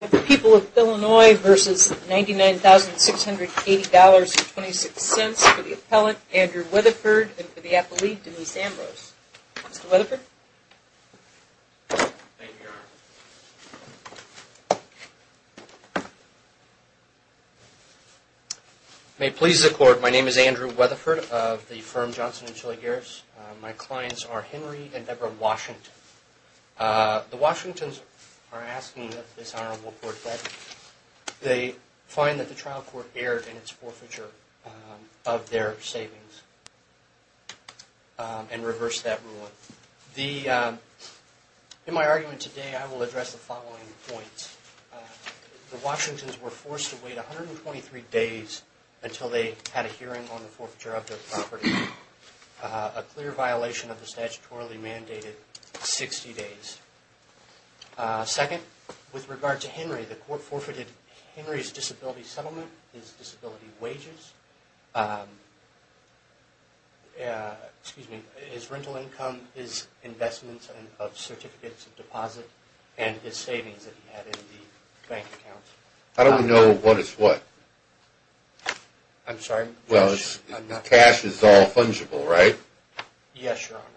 The People of Illinois v. Ninety Nine Thousand, Six Hundred Eighty Dollars and Twenty Six Cents for the Appellant, Andrew Weatherford, and for the Appellee, Denise Ambrose. Mr. Weatherford. Thank you, Your Honor. May it please the Court, my name is Andrew Weatherford of the firm Johnson & Chili Garris. My clients are Henry and Deborah Washington. The Washingtons are asking that this Honorable Court veteran, they find that the trial court erred in its forfeiture of their savings and reversed that ruling. In my argument today, I will address the following points. The Washingtons were forced to wait 123 days until they had a hearing on the forfeiture of their property. A clear violation of the statutorily mandated 60 days. Second, with regard to Henry, the Court forfeited Henry's disability settlement, his disability wages, his rental income, his investments of certificates of deposit, and his savings that he had in the bank account. I don't know what is what. I'm sorry? Well, cash is all fungible, right? Yes, Your Honor.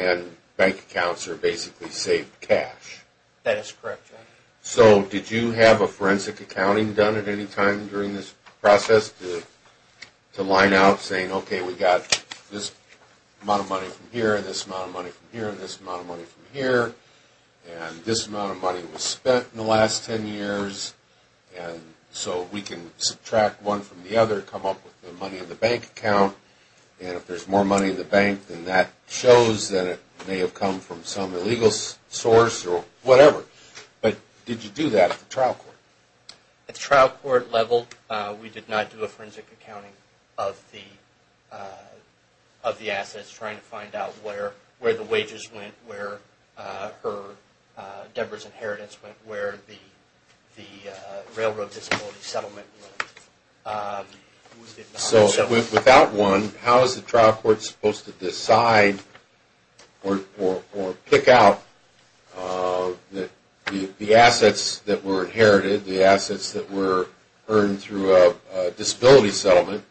And bank accounts are basically saved cash. That is correct, Your Honor. So did you have a forensic accounting done at any time during this process to line out saying, okay, we got this amount of money from here, this amount of money from here, this amount of money from here, and this amount of money was spent in the last 10 years, and so we can subtract one from the other, come up with the money in the bank account, and if there's more money in the bank, then that shows that it may have come from some illegal source or whatever. But did you do that at the trial court? At the trial court level, we did not do a forensic accounting of the assets trying to find out where the wages went, where her, Debra's inheritance went, where the railroad disability settlement went. So without one, how is the trial court supposed to decide or pick out the assets that were inherited, the assets that were earned through a disability settlement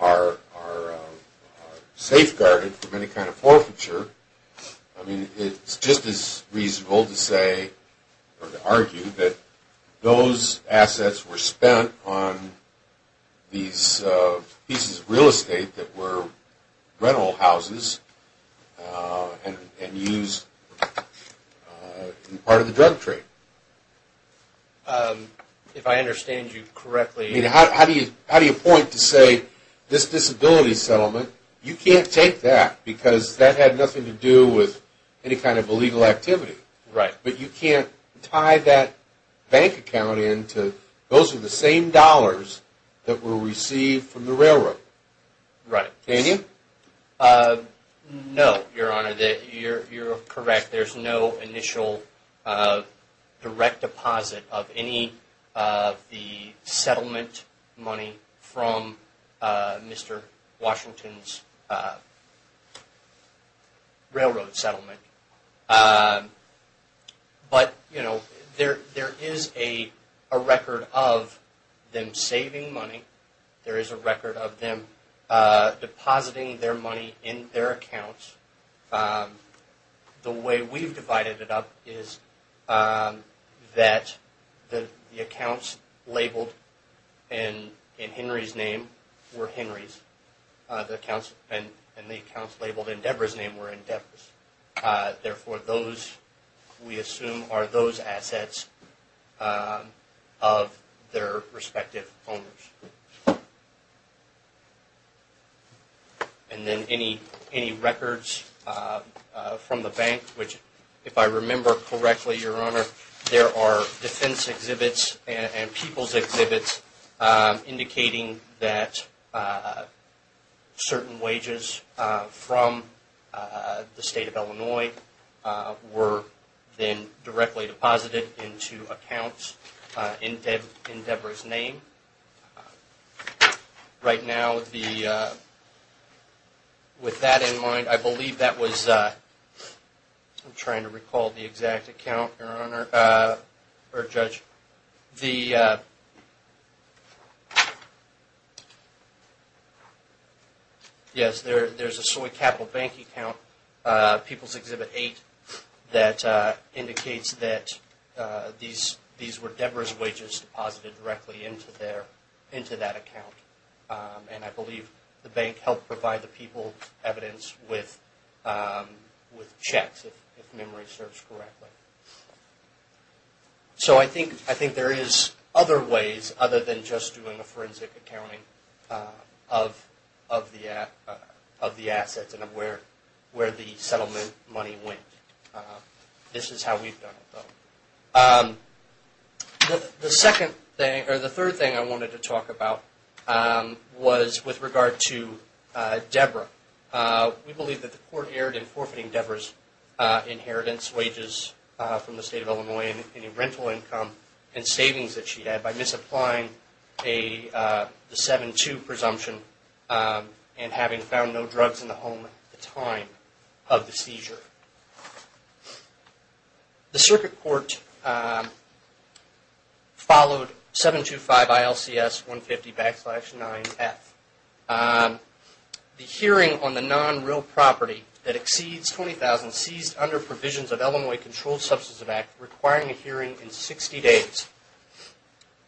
are safeguarded from any kind of forfeiture? I mean, it's just as reasonable to say or to argue that those assets were spent on these pieces of real estate that were rental houses and used as part of the drug trade. If I understand you correctly... I mean, how do you point to say this disability settlement, you can't take that because that had nothing to do with any kind of illegal activity. Right. But you can't tie that bank account in to those are the same dollars that were received from the railroad. Right. Can you? No, Your Honor, you're correct. There's no initial direct deposit of any of the settlement money from Mr. Washington's railroad settlement. But there is a record of them saving money, there is a record of them depositing their money in their accounts. The way we've divided it up is that the accounts labeled in Henry's name were Henry's and the accounts labeled in Deborah's name were in Deborah's. Therefore, those we assume are those assets of their respective owners. And then any records from the bank, which if I remember correctly, Your Honor, there are defense exhibits and people's exhibits indicating that certain wages from the State of Illinois were then directly deposited into accounts in Deborah's name. Right now, with that in mind, I believe that was... I'm trying to recall the exact account, Your Honor, or Judge. The... Yes, there's a Soy Capital Bank account, People's Exhibit 8, that indicates that these were Deborah's wages deposited directly into that account. And I believe the bank helped provide the people evidence with checks, if memory serves correctly. So I think there is other ways other than just doing a forensic accounting of the assets and of where the settlement money went. This is how we've done it, though. The third thing I wanted to talk about was with regard to Deborah. We believe that the court erred in forfeiting Deborah's inheritance wages from the State of Illinois and any rental income and savings that she had by misapplying the 7-2 presumption and having found no drugs in the home at the time of the seizure. The circuit court followed 725 ILCS 150 backslash 9F. The hearing on the non-real property that exceeds $20,000 seized under provisions of Illinois Controlled Substance Abuse Act requiring a hearing in 60 days.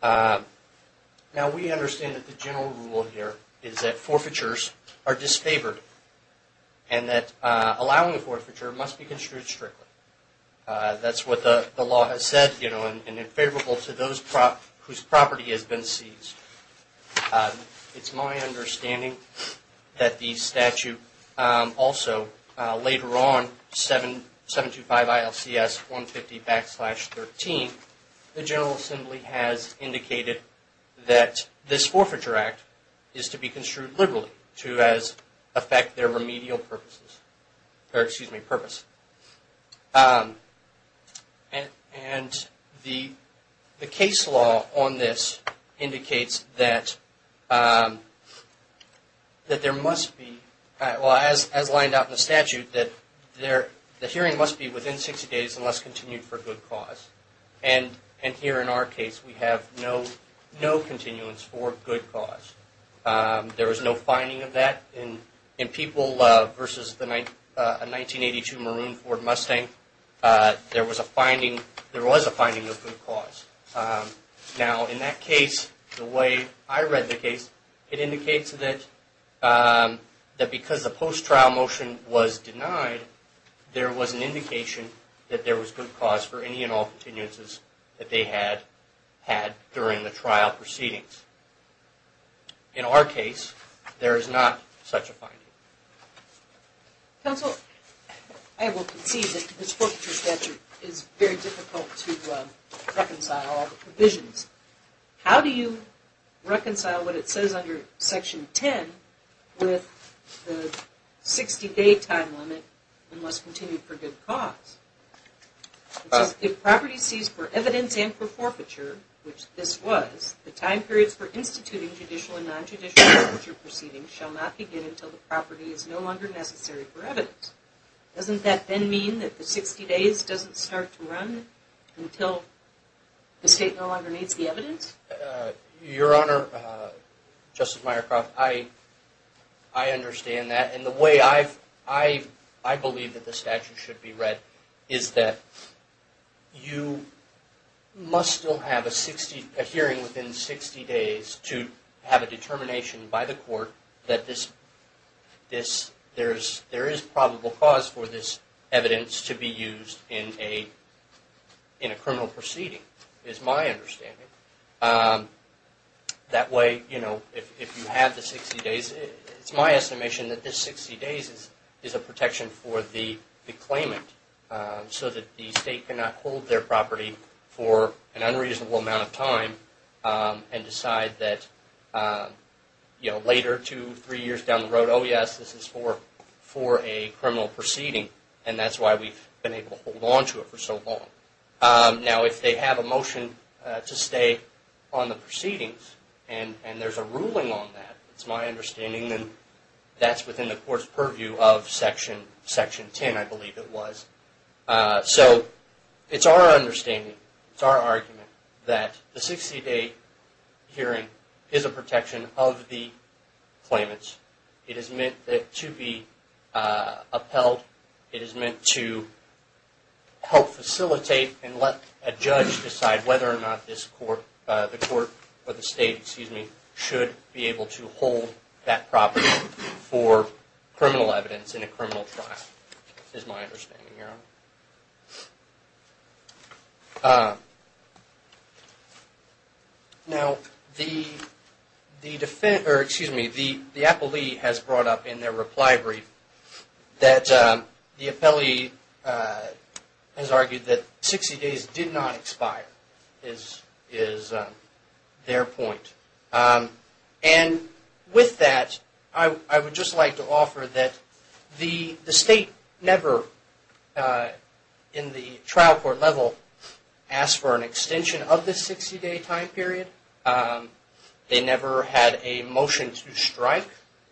Now, we understand that the general rule here is that forfeitures are disfavored and that allowing a forfeiture must be construed strictly. That's what the law has said, you know, and it's favorable to those whose property has been seized. It's my understanding that the statute also later on, 725 ILCS 150 backslash 13, the General Assembly has indicated that this forfeiture act is to be construed liberally to affect their remedial purposes, or excuse me, purpose. And the case law on this indicates that there must be, as lined out in the statute, that the hearing must be within 60 days unless continued for good cause. And here in our case, we have no continuance for good cause. There was no finding of that in people versus a 1982 Maroon Ford Mustang. There was a finding of good cause. Now, in that case, the way I read the case, it indicates that because the post-trial motion was denied, there was an indication that there was good cause for any and all continuances that they had had during the trial proceedings. In our case, there is not such a finding. Counsel, I will concede that this forfeiture statute is very difficult to reconcile all the provisions. How do you reconcile what it says under Section 10 with the 60-day time limit unless continued for good cause? It says, if property seized for evidence and for forfeiture, which this was, the time periods for instituting judicial and non-judicial forfeiture proceedings shall not begin until the property is no longer necessary for evidence. Doesn't that then mean that the 60 days doesn't start to run until the state no longer needs the evidence? Your Honor, Justice Myercroft, I understand that. The way I believe that the statute should be read is that you must still have a hearing within 60 days to have a determination by the court that there is probable cause for this evidence to be used in a criminal proceeding, is my understanding. That way, if you have the 60 days, it's my estimation that this 60 days is a protection for the claimant so that the state cannot hold their property for an unreasonable amount of time and decide that later, two, three years down the road, oh yes, this is for a criminal proceeding and that's why we've been able to hold on to it for so long. Now, if they have a motion to stay on the proceedings and there's a ruling on that, it's my understanding that that's within the court's purview of Section 10, I believe it was. So, it's our understanding, it's our argument that the 60 day hearing is a protection of the claimants. It is meant to be upheld. It is meant to help facilitate and let a judge decide whether or not the court or the state, excuse me, should be able to hold that property for criminal evidence in a criminal trial, is my understanding. Now, the defendant, or excuse me, the appellee has brought up in their reply brief that the appellee has argued that 60 days did not expire, is their point. And with that, I would just like to offer that the state never, in the trial court level, asked for an extension of the 60 day time period. They never had a motion to strike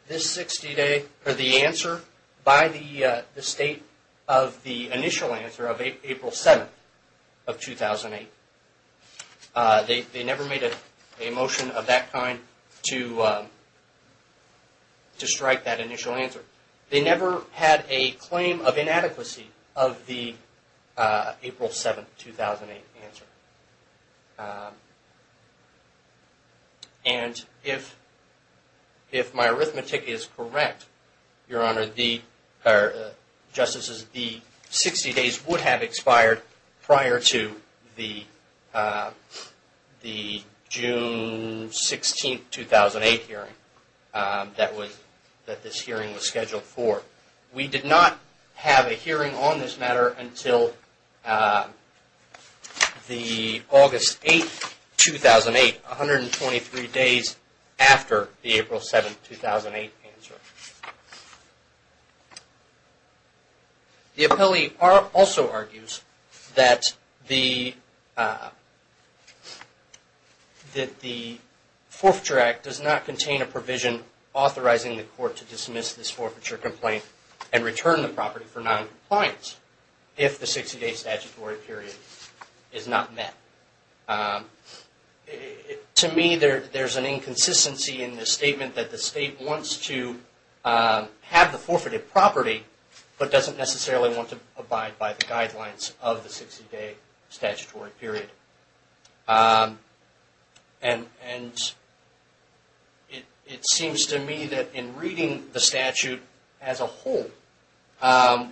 this 60 day or the answer by the state of the initial answer of April 7th of 2008. They never made a motion of that kind to strike that initial answer. They never had a claim of inadequacy of the April 7th, 2008 answer. And if my arithmetic is correct, Your Honor, Justices, the 60 days would have expired prior to the June 16th, 2008 hearing that this hearing was scheduled for. We did not have a hearing on this matter until the August 8th, 2008, 123 days after the April 7th, 2008 answer. The appellee also argues that the Forfeiture Act does not contain a provision authorizing the court to dismiss this forfeiture complaint and return the property for non-compliance if the 60 day statutory period is not met. To me, there's an inconsistency in the statement that the state wants to have the forfeited property, but doesn't necessarily want to abide by the guidelines of the 60 day statutory period. And it seems to me that in reading the statute as a whole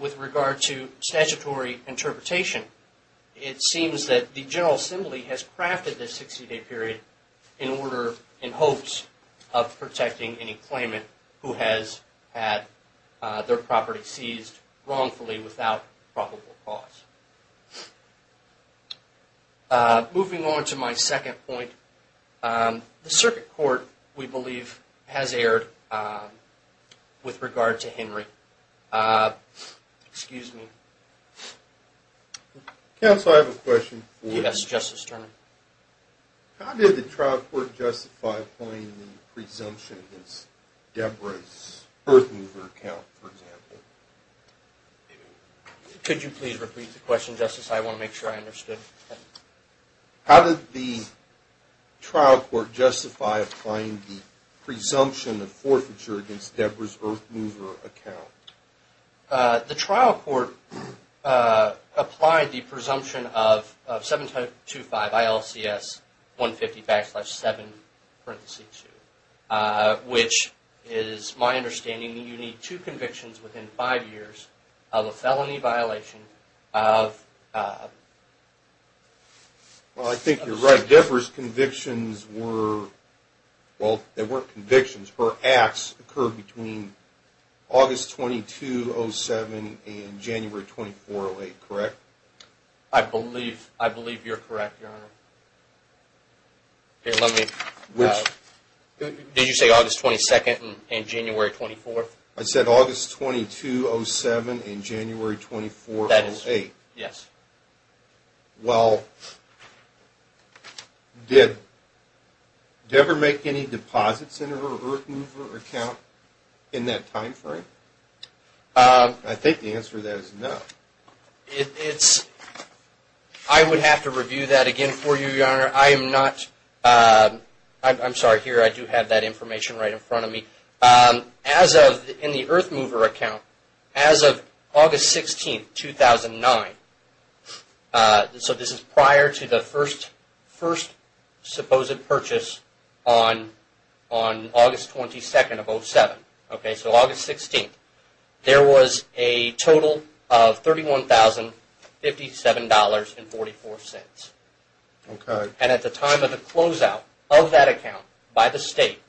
with regard to statutory interpretation, it seems that the General Assembly has crafted this 60 day period in order, in hopes of protecting any claimant who has had their property seized wrongfully without probable cause. Moving on to my second point, the Circuit Court, we believe, has erred with regard to Henry. Excuse me. Counsel, I have a question for you. Yes, Justice Turner. How did the trial court justify appointing the presumption as Deborah's birth mover account, for example? Could you please repeat the question, Justice? I want to make sure I understood. How did the trial court justify applying the presumption of forfeiture against Deborah's birth mover account? The trial court applied the presumption of 725 ILCS 150 backslash 7 parenthesis 2, which is my understanding you need two convictions within five years of a felony violation of... Well, I think you're right. Deborah's convictions were, well, they weren't convictions. Her acts occurred between August 2207 and January 2408, correct? I believe you're correct, Your Honor. Here, let me... Did you say August 22nd and January 24th? I said August 2207 and January 2408. Yes. Well, did Deborah make any deposits in her birth mover account in that time frame? I think the answer to that is no. It's... I would have to review that again for you, Your Honor. I am not... I'm sorry. Here, I do have that information right in front of me. As of... In the birth mover account, as of August 16th, 2009, so this is prior to the first supposed purchase on August 22nd of 2007, okay, so August 16th, there was a total of $31,057.44. Okay. And at the time of the closeout of that account by the state,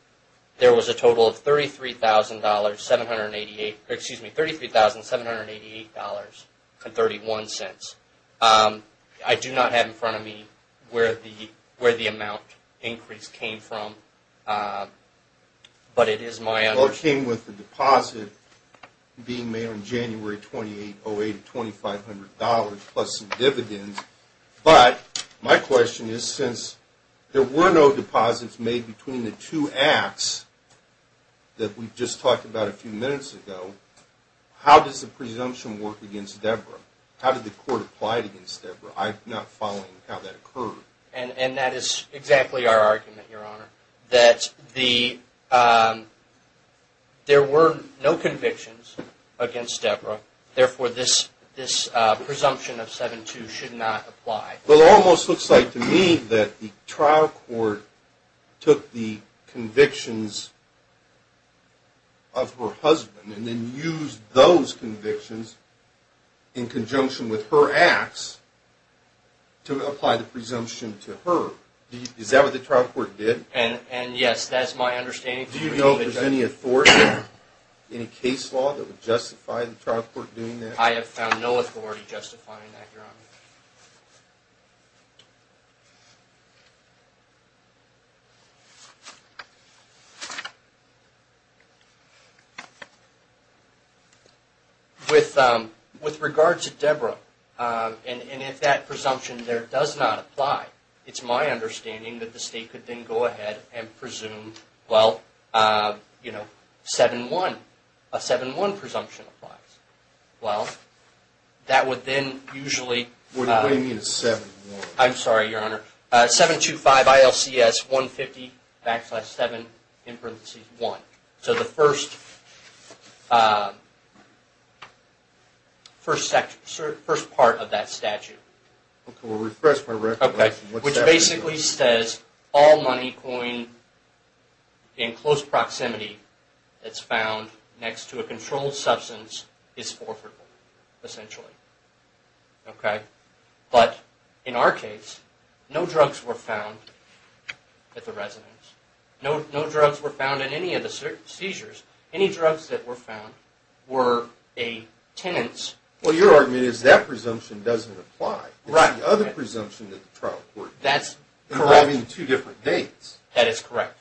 there was a total of $33,788.31. I do not have in front of me where the amount increase came from, but it is my understanding... Well, it came with the deposit being made on January 28, 2008, $2,500 plus some dividends. But my question is, since there were no deposits made between the two acts that we just talked about a few minutes ago, how does the presumption work against Deborah? How did the court apply it against Deborah? I'm not following how that occurred. And that is exactly our argument, Your Honor, that there were no convictions against Deborah, therefore this presumption of 7-2 should not apply. Well, it almost looks like to me that the trial court took the convictions of her husband and then used those convictions in conjunction with her acts to apply the presumption to her. Is that what the trial court did? And yes, that's my understanding. Do you know if there's any authority, any case law that would justify the trial court doing that? I have found no authority justifying that, Your Honor. With regard to Deborah, and if that presumption there does not apply, it's my understanding that the State could then go ahead and presume, well, you know, 7-1. A 7-1 presumption applies. Well, that would then usually... What do you mean 7-1? I'm sorry, Your Honor. 725 ILCS 150 backslash 7 in parentheses 1. So the first part of that statute. Okay, we'll refresh my recollection. Which basically says all money coined in close proximity that's found next to a controlled substance is forfeitable, essentially. Okay? But in our case, no drugs were found at the residence. No drugs were found in any of the seizures. Any drugs that were found were a tenant's... Well, your argument is that presumption doesn't apply. Right. It's the other presumption that the trial court did. That's correct. For having two different dates. That is correct.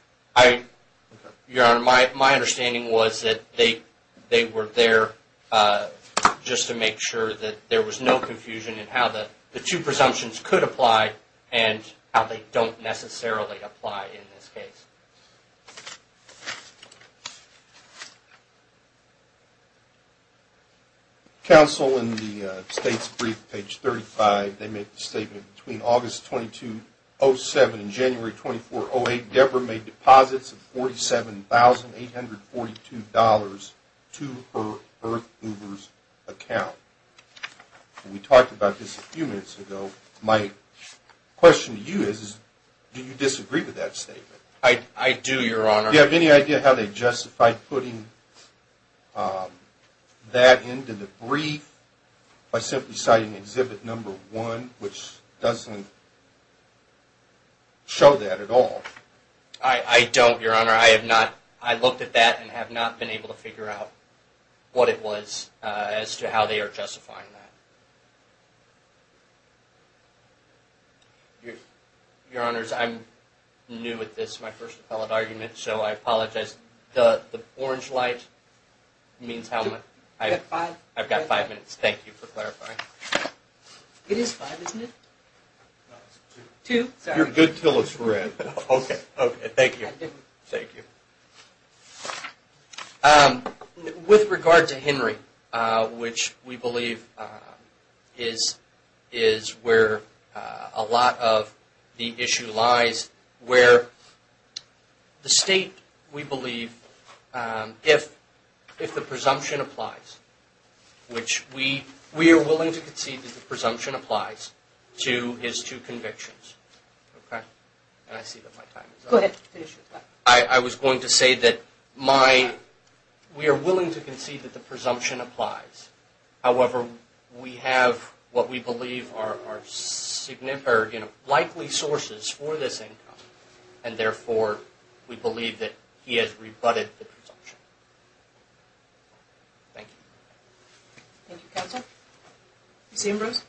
Your Honor, my understanding was that they were there just to make sure that there was no confusion in how the two presumptions could apply and how they don't necessarily apply in this case. Counsel, in the State's brief, page 35, they make the statement, between August 2207 and January 2408, Debra made deposits of $47,842 to her Earth Movers account. We talked about this a few minutes ago. My question to you is, do you disagree with that statement? I do, Your Honor. Do you have any idea how they justified putting that into the brief by simply citing exhibit number one, which doesn't show that at all? I don't, Your Honor. I have not... I looked at that and have not been able to figure out what it was as to how they are justifying that. Your Honor, I'm new at this, my first appellate argument, so I apologize. The orange light means how much... You've got five minutes. I've got five minutes. Thank you for clarifying. It is five, isn't it? No, it's two. Two, sorry. You're good till it's red. Okay, okay. Thank you. Thank you. With regard to Henry, which we believe is where a lot of the issue lies, where the State, we believe, if the presumption applies, which we are willing to concede that the presumption applies to his two convictions. Okay? And I see that my time is up. Go ahead. I was going to say that my... We are willing to concede that the presumption applies. However, we have what we believe are likely sources for this income, and therefore, we believe that he has rebutted the presumption. Thank you. Thank you, Counsel. Ms. Ambrose?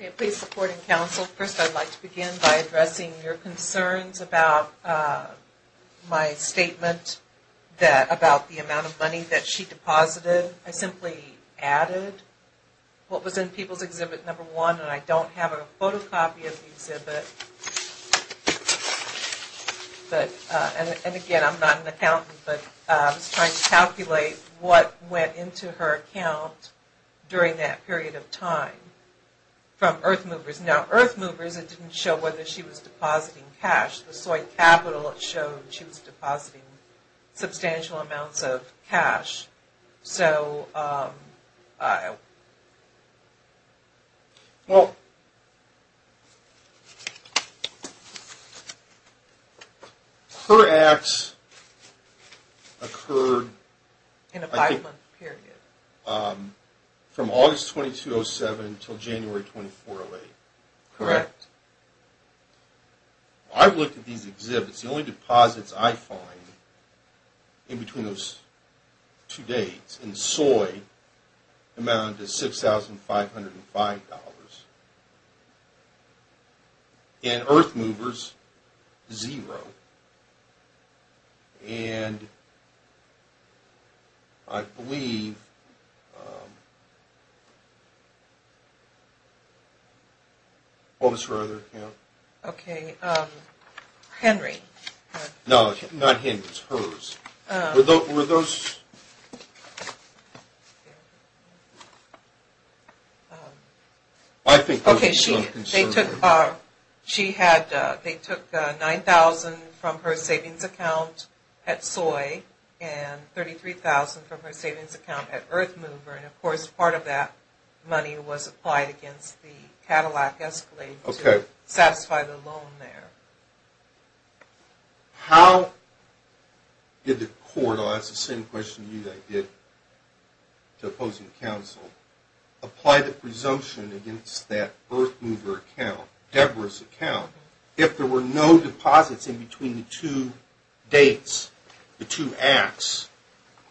Okay, please support and counsel. First, I'd like to begin by addressing your concerns about my statement about the amount of money that she deposited. I simply added what was in People's Exhibit No. 1, and I don't have a photocopy of the exhibit. And again, I'm not an accountant, but I was trying to calculate what went into her account during that period of time from Earth Movers. Now, Earth Movers, it didn't show whether she was depositing cash. The Soy Capital, it showed she was depositing substantial amounts of cash. So... Well... Her acts occurred... In a five-month period. From August 2207 until January 2408. Correct. I looked at these exhibits. The only deposits I find in between those two dates in Soy amounted to $6,505. In Earth Movers, zero. And... I believe... What was her other account? Okay. Henry. No, not Henry's. Hers. Were those... Okay, she took $9,000 from her savings account at Soy and $33,000 from her savings account at Earth Movers. And, of course, part of that money was applied against the Cadillac Escalade to satisfy the loan there. How did the court... I'll ask the same question to you that I did to opposing counsel. Apply the presumption against that Earth Movers account, Deborah's account, if there were no deposits in between the two dates, the two acts,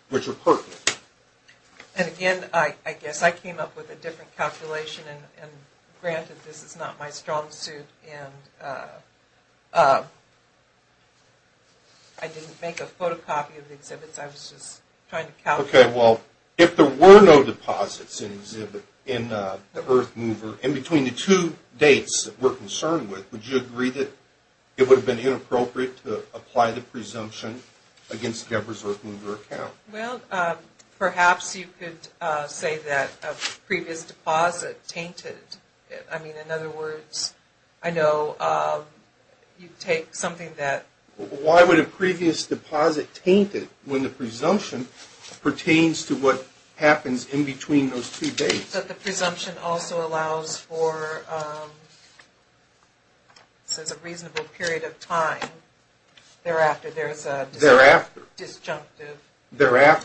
which are pertinent? And, again, I guess I came up with a different calculation. And, granted, this is not my strong suit. And I didn't make a photocopy of the exhibits. I was just trying to calculate... Okay, well, if there were no deposits in the Earth Movers, in between the two dates that we're concerned with, would you agree that it would have been inappropriate to apply the presumption against Deborah's Earth Movers account? Well, perhaps you could say that a previous deposit tainted it. I mean, in other words, I know you'd take something that... Why would a previous deposit taint it when the presumption pertains to what happens in between those two dates? But the presumption also allows for...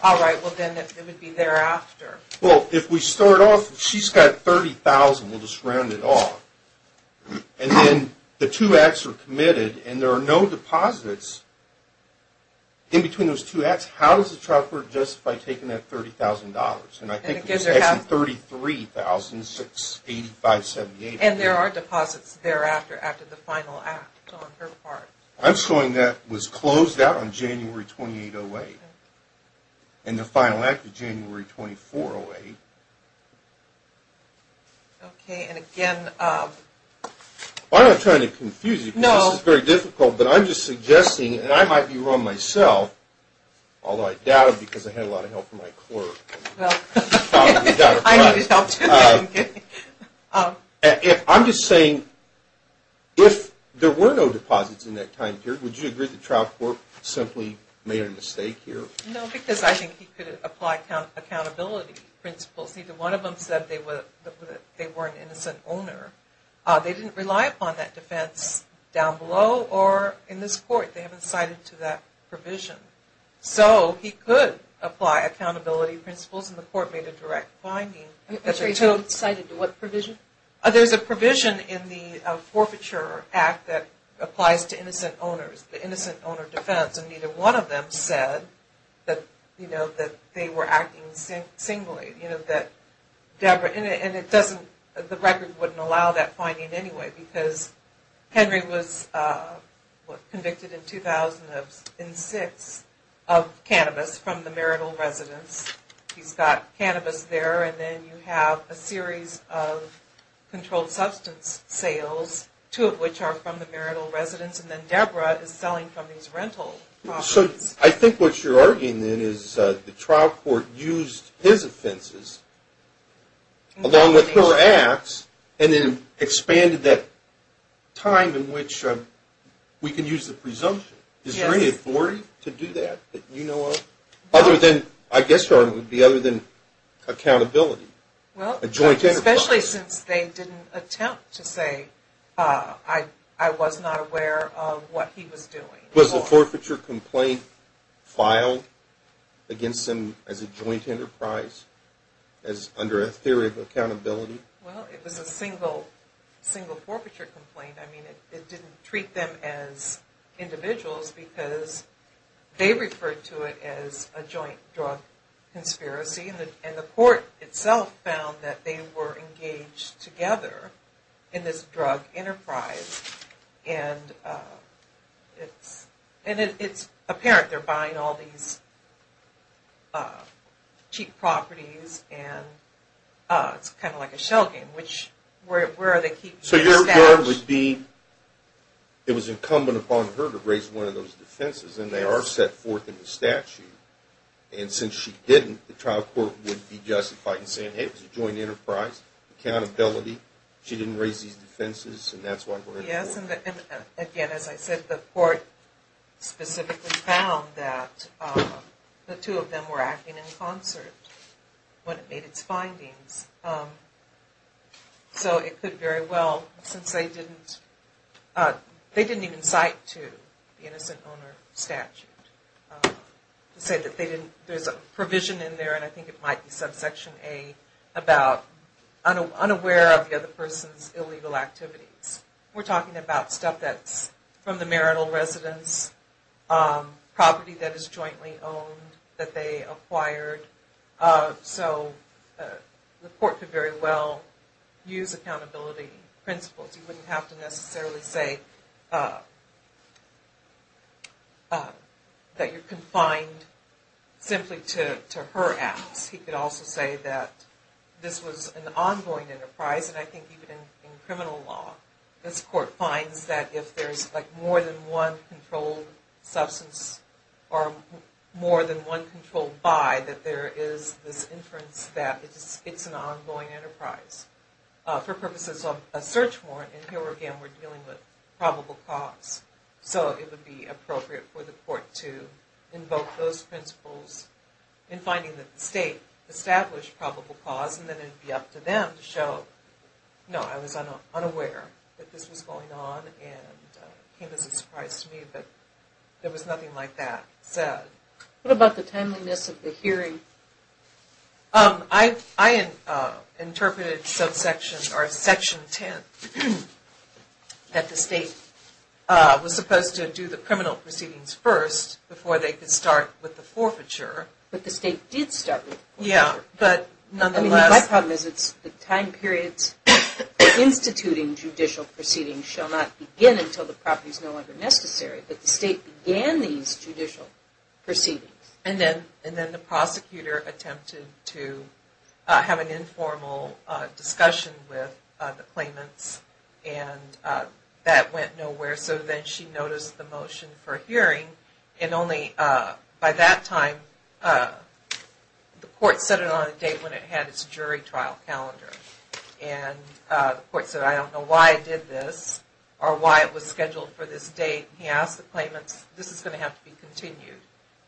All right, well, then it would be thereafter. Well, if we start off, she's got $30,000. We'll just round it off. And then the two acts are committed, and there are no deposits in between those two acts. How does the child court justify taking that $30,000? And I think it was actually $33,685.78. And there are deposits thereafter, after the final act on her part. I'm showing that was closed out on January 28, 08. And the final act of January 24, 08. Okay, and again... I'm not trying to confuse you, because this is very difficult, but I'm just suggesting, and I might be wrong myself, although I doubt it, because I had a lot of help from my clerk. I needed help, too. I'm just saying, if there were no deposits in that time period, would you agree the trial court simply made a mistake here? No, because I think he could apply accountability principles. Neither one of them said they were an innocent owner. They didn't rely upon that defense down below or in this court. They haven't cited to that provision. So he could apply accountability principles, and the court made a direct finding. I'm sorry, he hasn't cited to what provision? There's a provision in the Forfeiture Act that applies to innocent owners, the innocent owner defense. And neither one of them said that they were acting singly. And the record wouldn't allow that finding anyway, because Henry was convicted in 2006 of cannabis from the marital residence. He's got cannabis there, and then you have a series of controlled substance sales, two of which are from the marital residence, and then Deborah is selling from these rental properties. So I think what you're arguing, then, is the trial court used his offenses along with her acts and then expanded that time in which we can use the presumption. Is there any authority to do that that you know of? I guess your argument would be other than accountability, a joint enterprise. Especially since they didn't attempt to say, I was not aware of what he was doing. Was the forfeiture complaint filed against him as a joint enterprise, under a theory of accountability? Well, it was a single forfeiture complaint. I mean, it didn't treat them as individuals, because they referred to it as a joint drug conspiracy. And the court itself found that they were engaged together in this drug enterprise. And it's apparent they're buying all these cheap properties, and it's kind of like a shell game. So your argument would be, it was incumbent upon her to raise one of those defenses, and they are set forth in the statute. And since she didn't, the trial court would be justified in saying, hey, it was a joint enterprise, accountability. She didn't raise these defenses, and that's why we're in court. Yes, and again, as I said, the court specifically found that the two of them were acting in concert when it made its findings. So it could very well, since they didn't even cite to the innocent owner statute, to say that there's a provision in there, and I think it might be subsection A, about unaware of the other person's illegal activities. We're talking about stuff that's from the marital residence, property that is jointly owned, that they acquired. So the court could very well use accountability principles. You wouldn't have to necessarily say that you're confined simply to her acts. He could also say that this was an ongoing enterprise, and I think even in criminal law, this court finds that if there's more than one controlled substance, or more than one controlled by, that there is this inference that it's an ongoing enterprise. For purposes of a search warrant, and here again we're dealing with probable cause, so it would be appropriate for the court to invoke those principles in finding that the state established probable cause, and then it would be up to them to show, no, I was unaware that this was going on, and it came as a surprise to me that there was nothing like that said. What about the timeliness of the hearing? I interpreted subsection, or section 10, that the state was supposed to do the criminal proceedings first, before they could start with the forfeiture. But the state did start with the forfeiture. My problem is that the time periods for instituting judicial proceedings shall not begin until the property is no longer necessary, but the state began these judicial proceedings. And then the prosecutor attempted to have an informal discussion with the claimants, and that went nowhere, so then she noticed the motion for a hearing, and only by that time, the court set it on a date when it had its jury trial calendar. And the court said, I don't know why I did this, or why it was scheduled for this date, and he asked the claimants, this is going to have to be continued.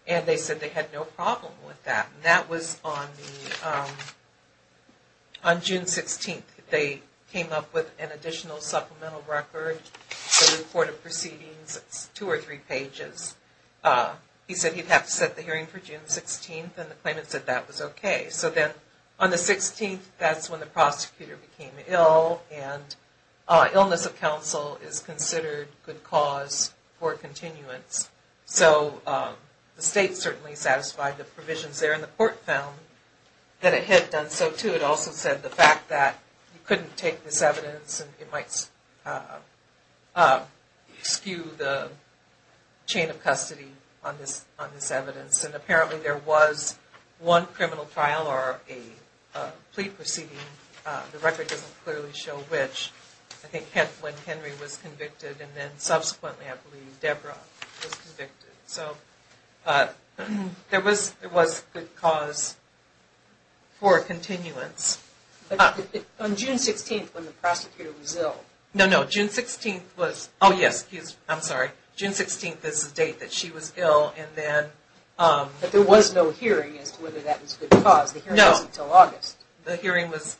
And they said they had no problem with that. And that was on June 16th. They came up with an additional supplemental record, a report of proceedings, two or three pages. He said he'd have to set the hearing for June 16th, and the claimants said that was okay. So then on the 16th, that's when the prosecutor became ill, and illness of counsel is considered good cause for continuance. So the state certainly satisfied the provisions there, and the court found that it had done so too. Richard also said the fact that he couldn't take this evidence, and it might skew the chain of custody on this evidence. And apparently there was one criminal trial or a plea proceeding. The record doesn't clearly show which. I think when Henry was convicted, and then subsequently, I believe, Deborah was convicted. So there was good cause for continuance. On June 16th when the prosecutor was ill. No, no, June 16th was, oh yes, I'm sorry. June 16th is the date that she was ill. But there was no hearing as to whether that was good cause. The hearing wasn't until August. The hearing was,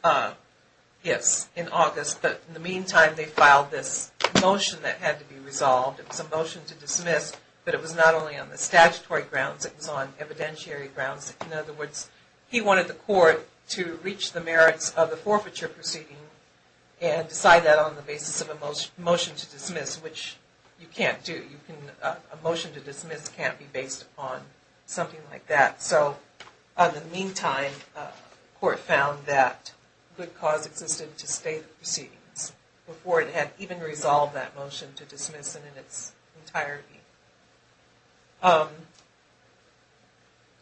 yes, in August. But in the meantime, they filed this motion that had to be resolved. It was a motion to dismiss, but it was not only on the statutory grounds. It was on evidentiary grounds. In other words, he wanted the court to reach the merits of the forfeiture proceeding and decide that on the basis of a motion to dismiss, which you can't do. A motion to dismiss can't be based upon something like that. So in the meantime, the court found that good cause existed to stay the proceedings before it had even resolved that motion to dismiss it in its entirety.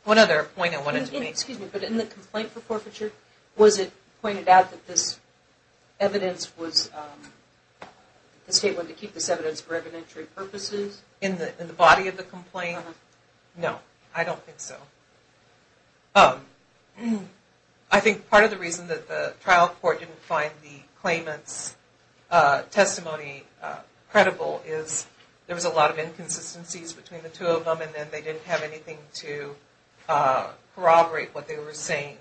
One other point I wanted to make. Excuse me, but in the complaint for forfeiture, was it pointed out that this evidence was, the state wanted to keep this evidence for evidentiary purposes? In the body of the complaint? No, I don't think so. I think part of the reason that the trial court didn't find the claimant's testimony credible is there was a lot of inconsistencies between the two of them and then they didn't have anything to corroborate what they were saying.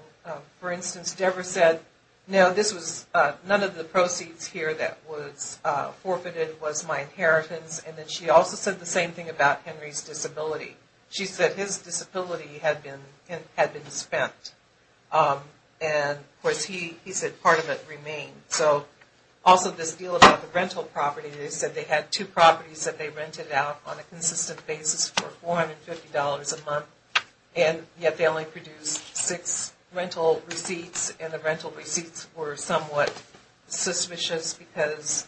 For instance, Deborah said, no, this was, none of the proceeds here that was forfeited was my inheritance. And then she also said the same thing about Henry's disability. She said his disability had been spent. And, of course, he said part of it remained. So also this deal about the rental property, they said they had two properties that they rented out on a consistent basis for $450 a month, and yet they only produced six rental receipts, and the rental receipts were somewhat suspicious because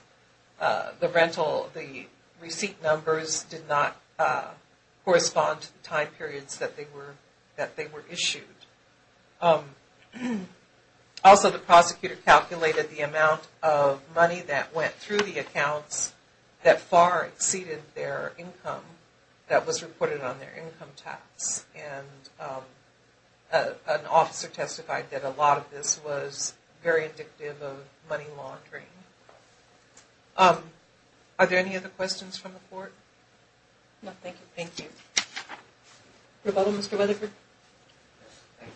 the rental, the receipt numbers did not correspond to the time periods that they were issued. Also the prosecutor calculated the amount of money that went through the accounts that far exceeded their income that was reported on their income tax. And an officer testified that a lot of this was very indicative of money laundering. Are there any other questions from the court? No, thank you. Thank you. Rebuttal, Mr. Weatherford? Yes, thank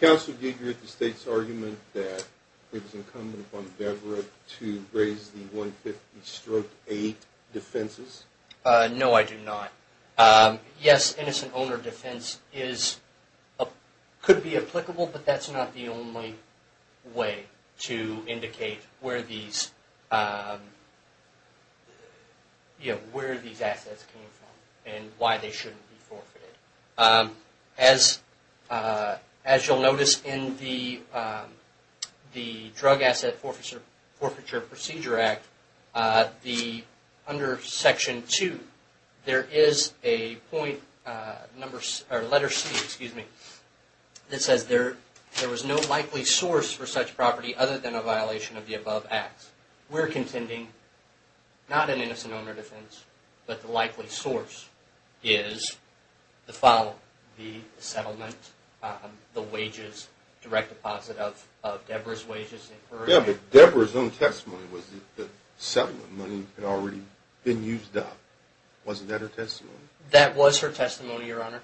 you. Counsel did hear the State's argument that it was incumbent upon Deborah to raise the 150-8 defenses? No, I do not. Yes, innocent owner defense could be applicable, but that's not the only way to indicate where these assets came from and why they shouldn't be forfeited. As you'll notice in the Drug Asset Forfeiture Procedure Act, under Section 2, there is a point, letter C, excuse me, that says there was no likely source for such property other than a violation of the above act. We're contending not an innocent owner defense, but the likely source is the following. The settlement, the wages, direct deposit of Deborah's wages. Deborah's own testimony was that settlement money had already been used up. Wasn't that her testimony? That was her testimony, Your Honor.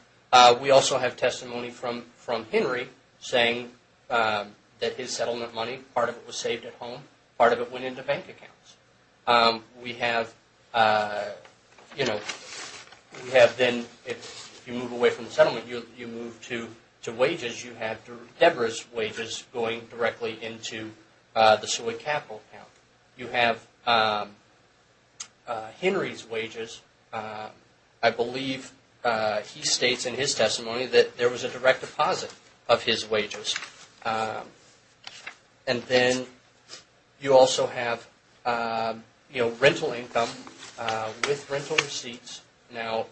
We also have testimony from Henry saying that his settlement money, part of it was saved at home, part of it went into bank accounts. We have, you know, we have been, if you move away from settlement, you move to wages, you have Deborah's wages going directly into the Seward Capital account. You have Henry's wages. I believe he states in his testimony that there was a direct deposit of his wages. And then you also have, you know, rental income with rental receipts. Now,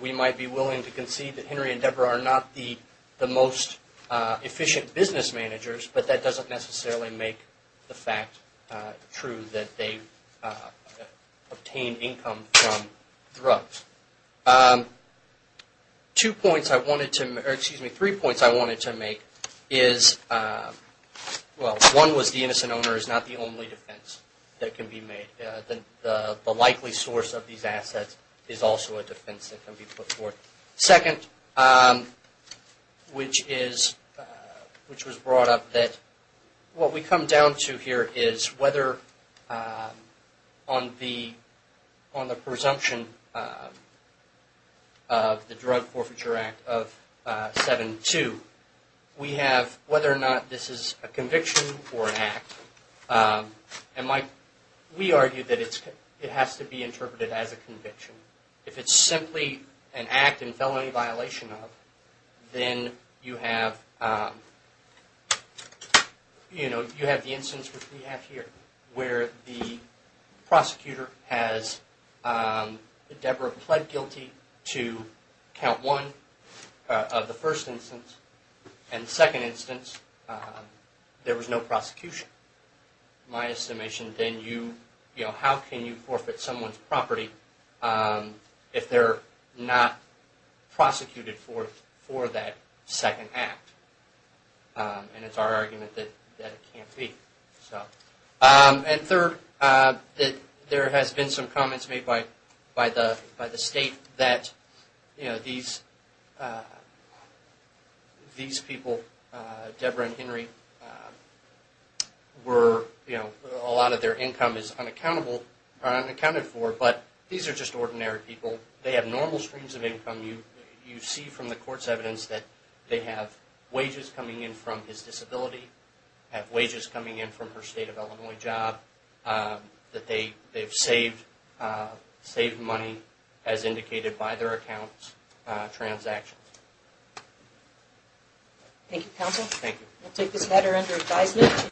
we might be willing to concede that Henry and Deborah are not the most efficient business managers, but that doesn't necessarily make the fact true that they obtained income from drugs. Two points I wanted to, or excuse me, three points I wanted to make is, well, one was the innocent owner is not the only defense that can be made. The likely source of these assets is also a defense that can be put forth. Second, which was brought up that what we come down to here is whether on the presumption of the Drug Forfeiture Act of 7-2, we have whether or not this is a conviction or an act. And we argue that it has to be interpreted as a conviction. If it's simply an act in felony violation of, then you have, you know, you have the instance which we have here where the prosecutor has, Deborah pled guilty to count one of the first instance. And the second instance, there was no prosecution. My estimation, then you, you know, how can you forfeit someone's property if they're not prosecuted for that second act? And it's our argument that it can't be. And third, there has been some comments made by the state that, you know, these people, Deborah and Henry, were, you know, a lot of their income is unaccounted for, but these are just ordinary people. They have normal streams of income. You see from the court's evidence that they have wages coming in from his disability, have wages coming in from her state of Illinois job, that they've saved money as indicated by their account transactions. Thank you, counsel. Thank you. We'll take this matter under advisement.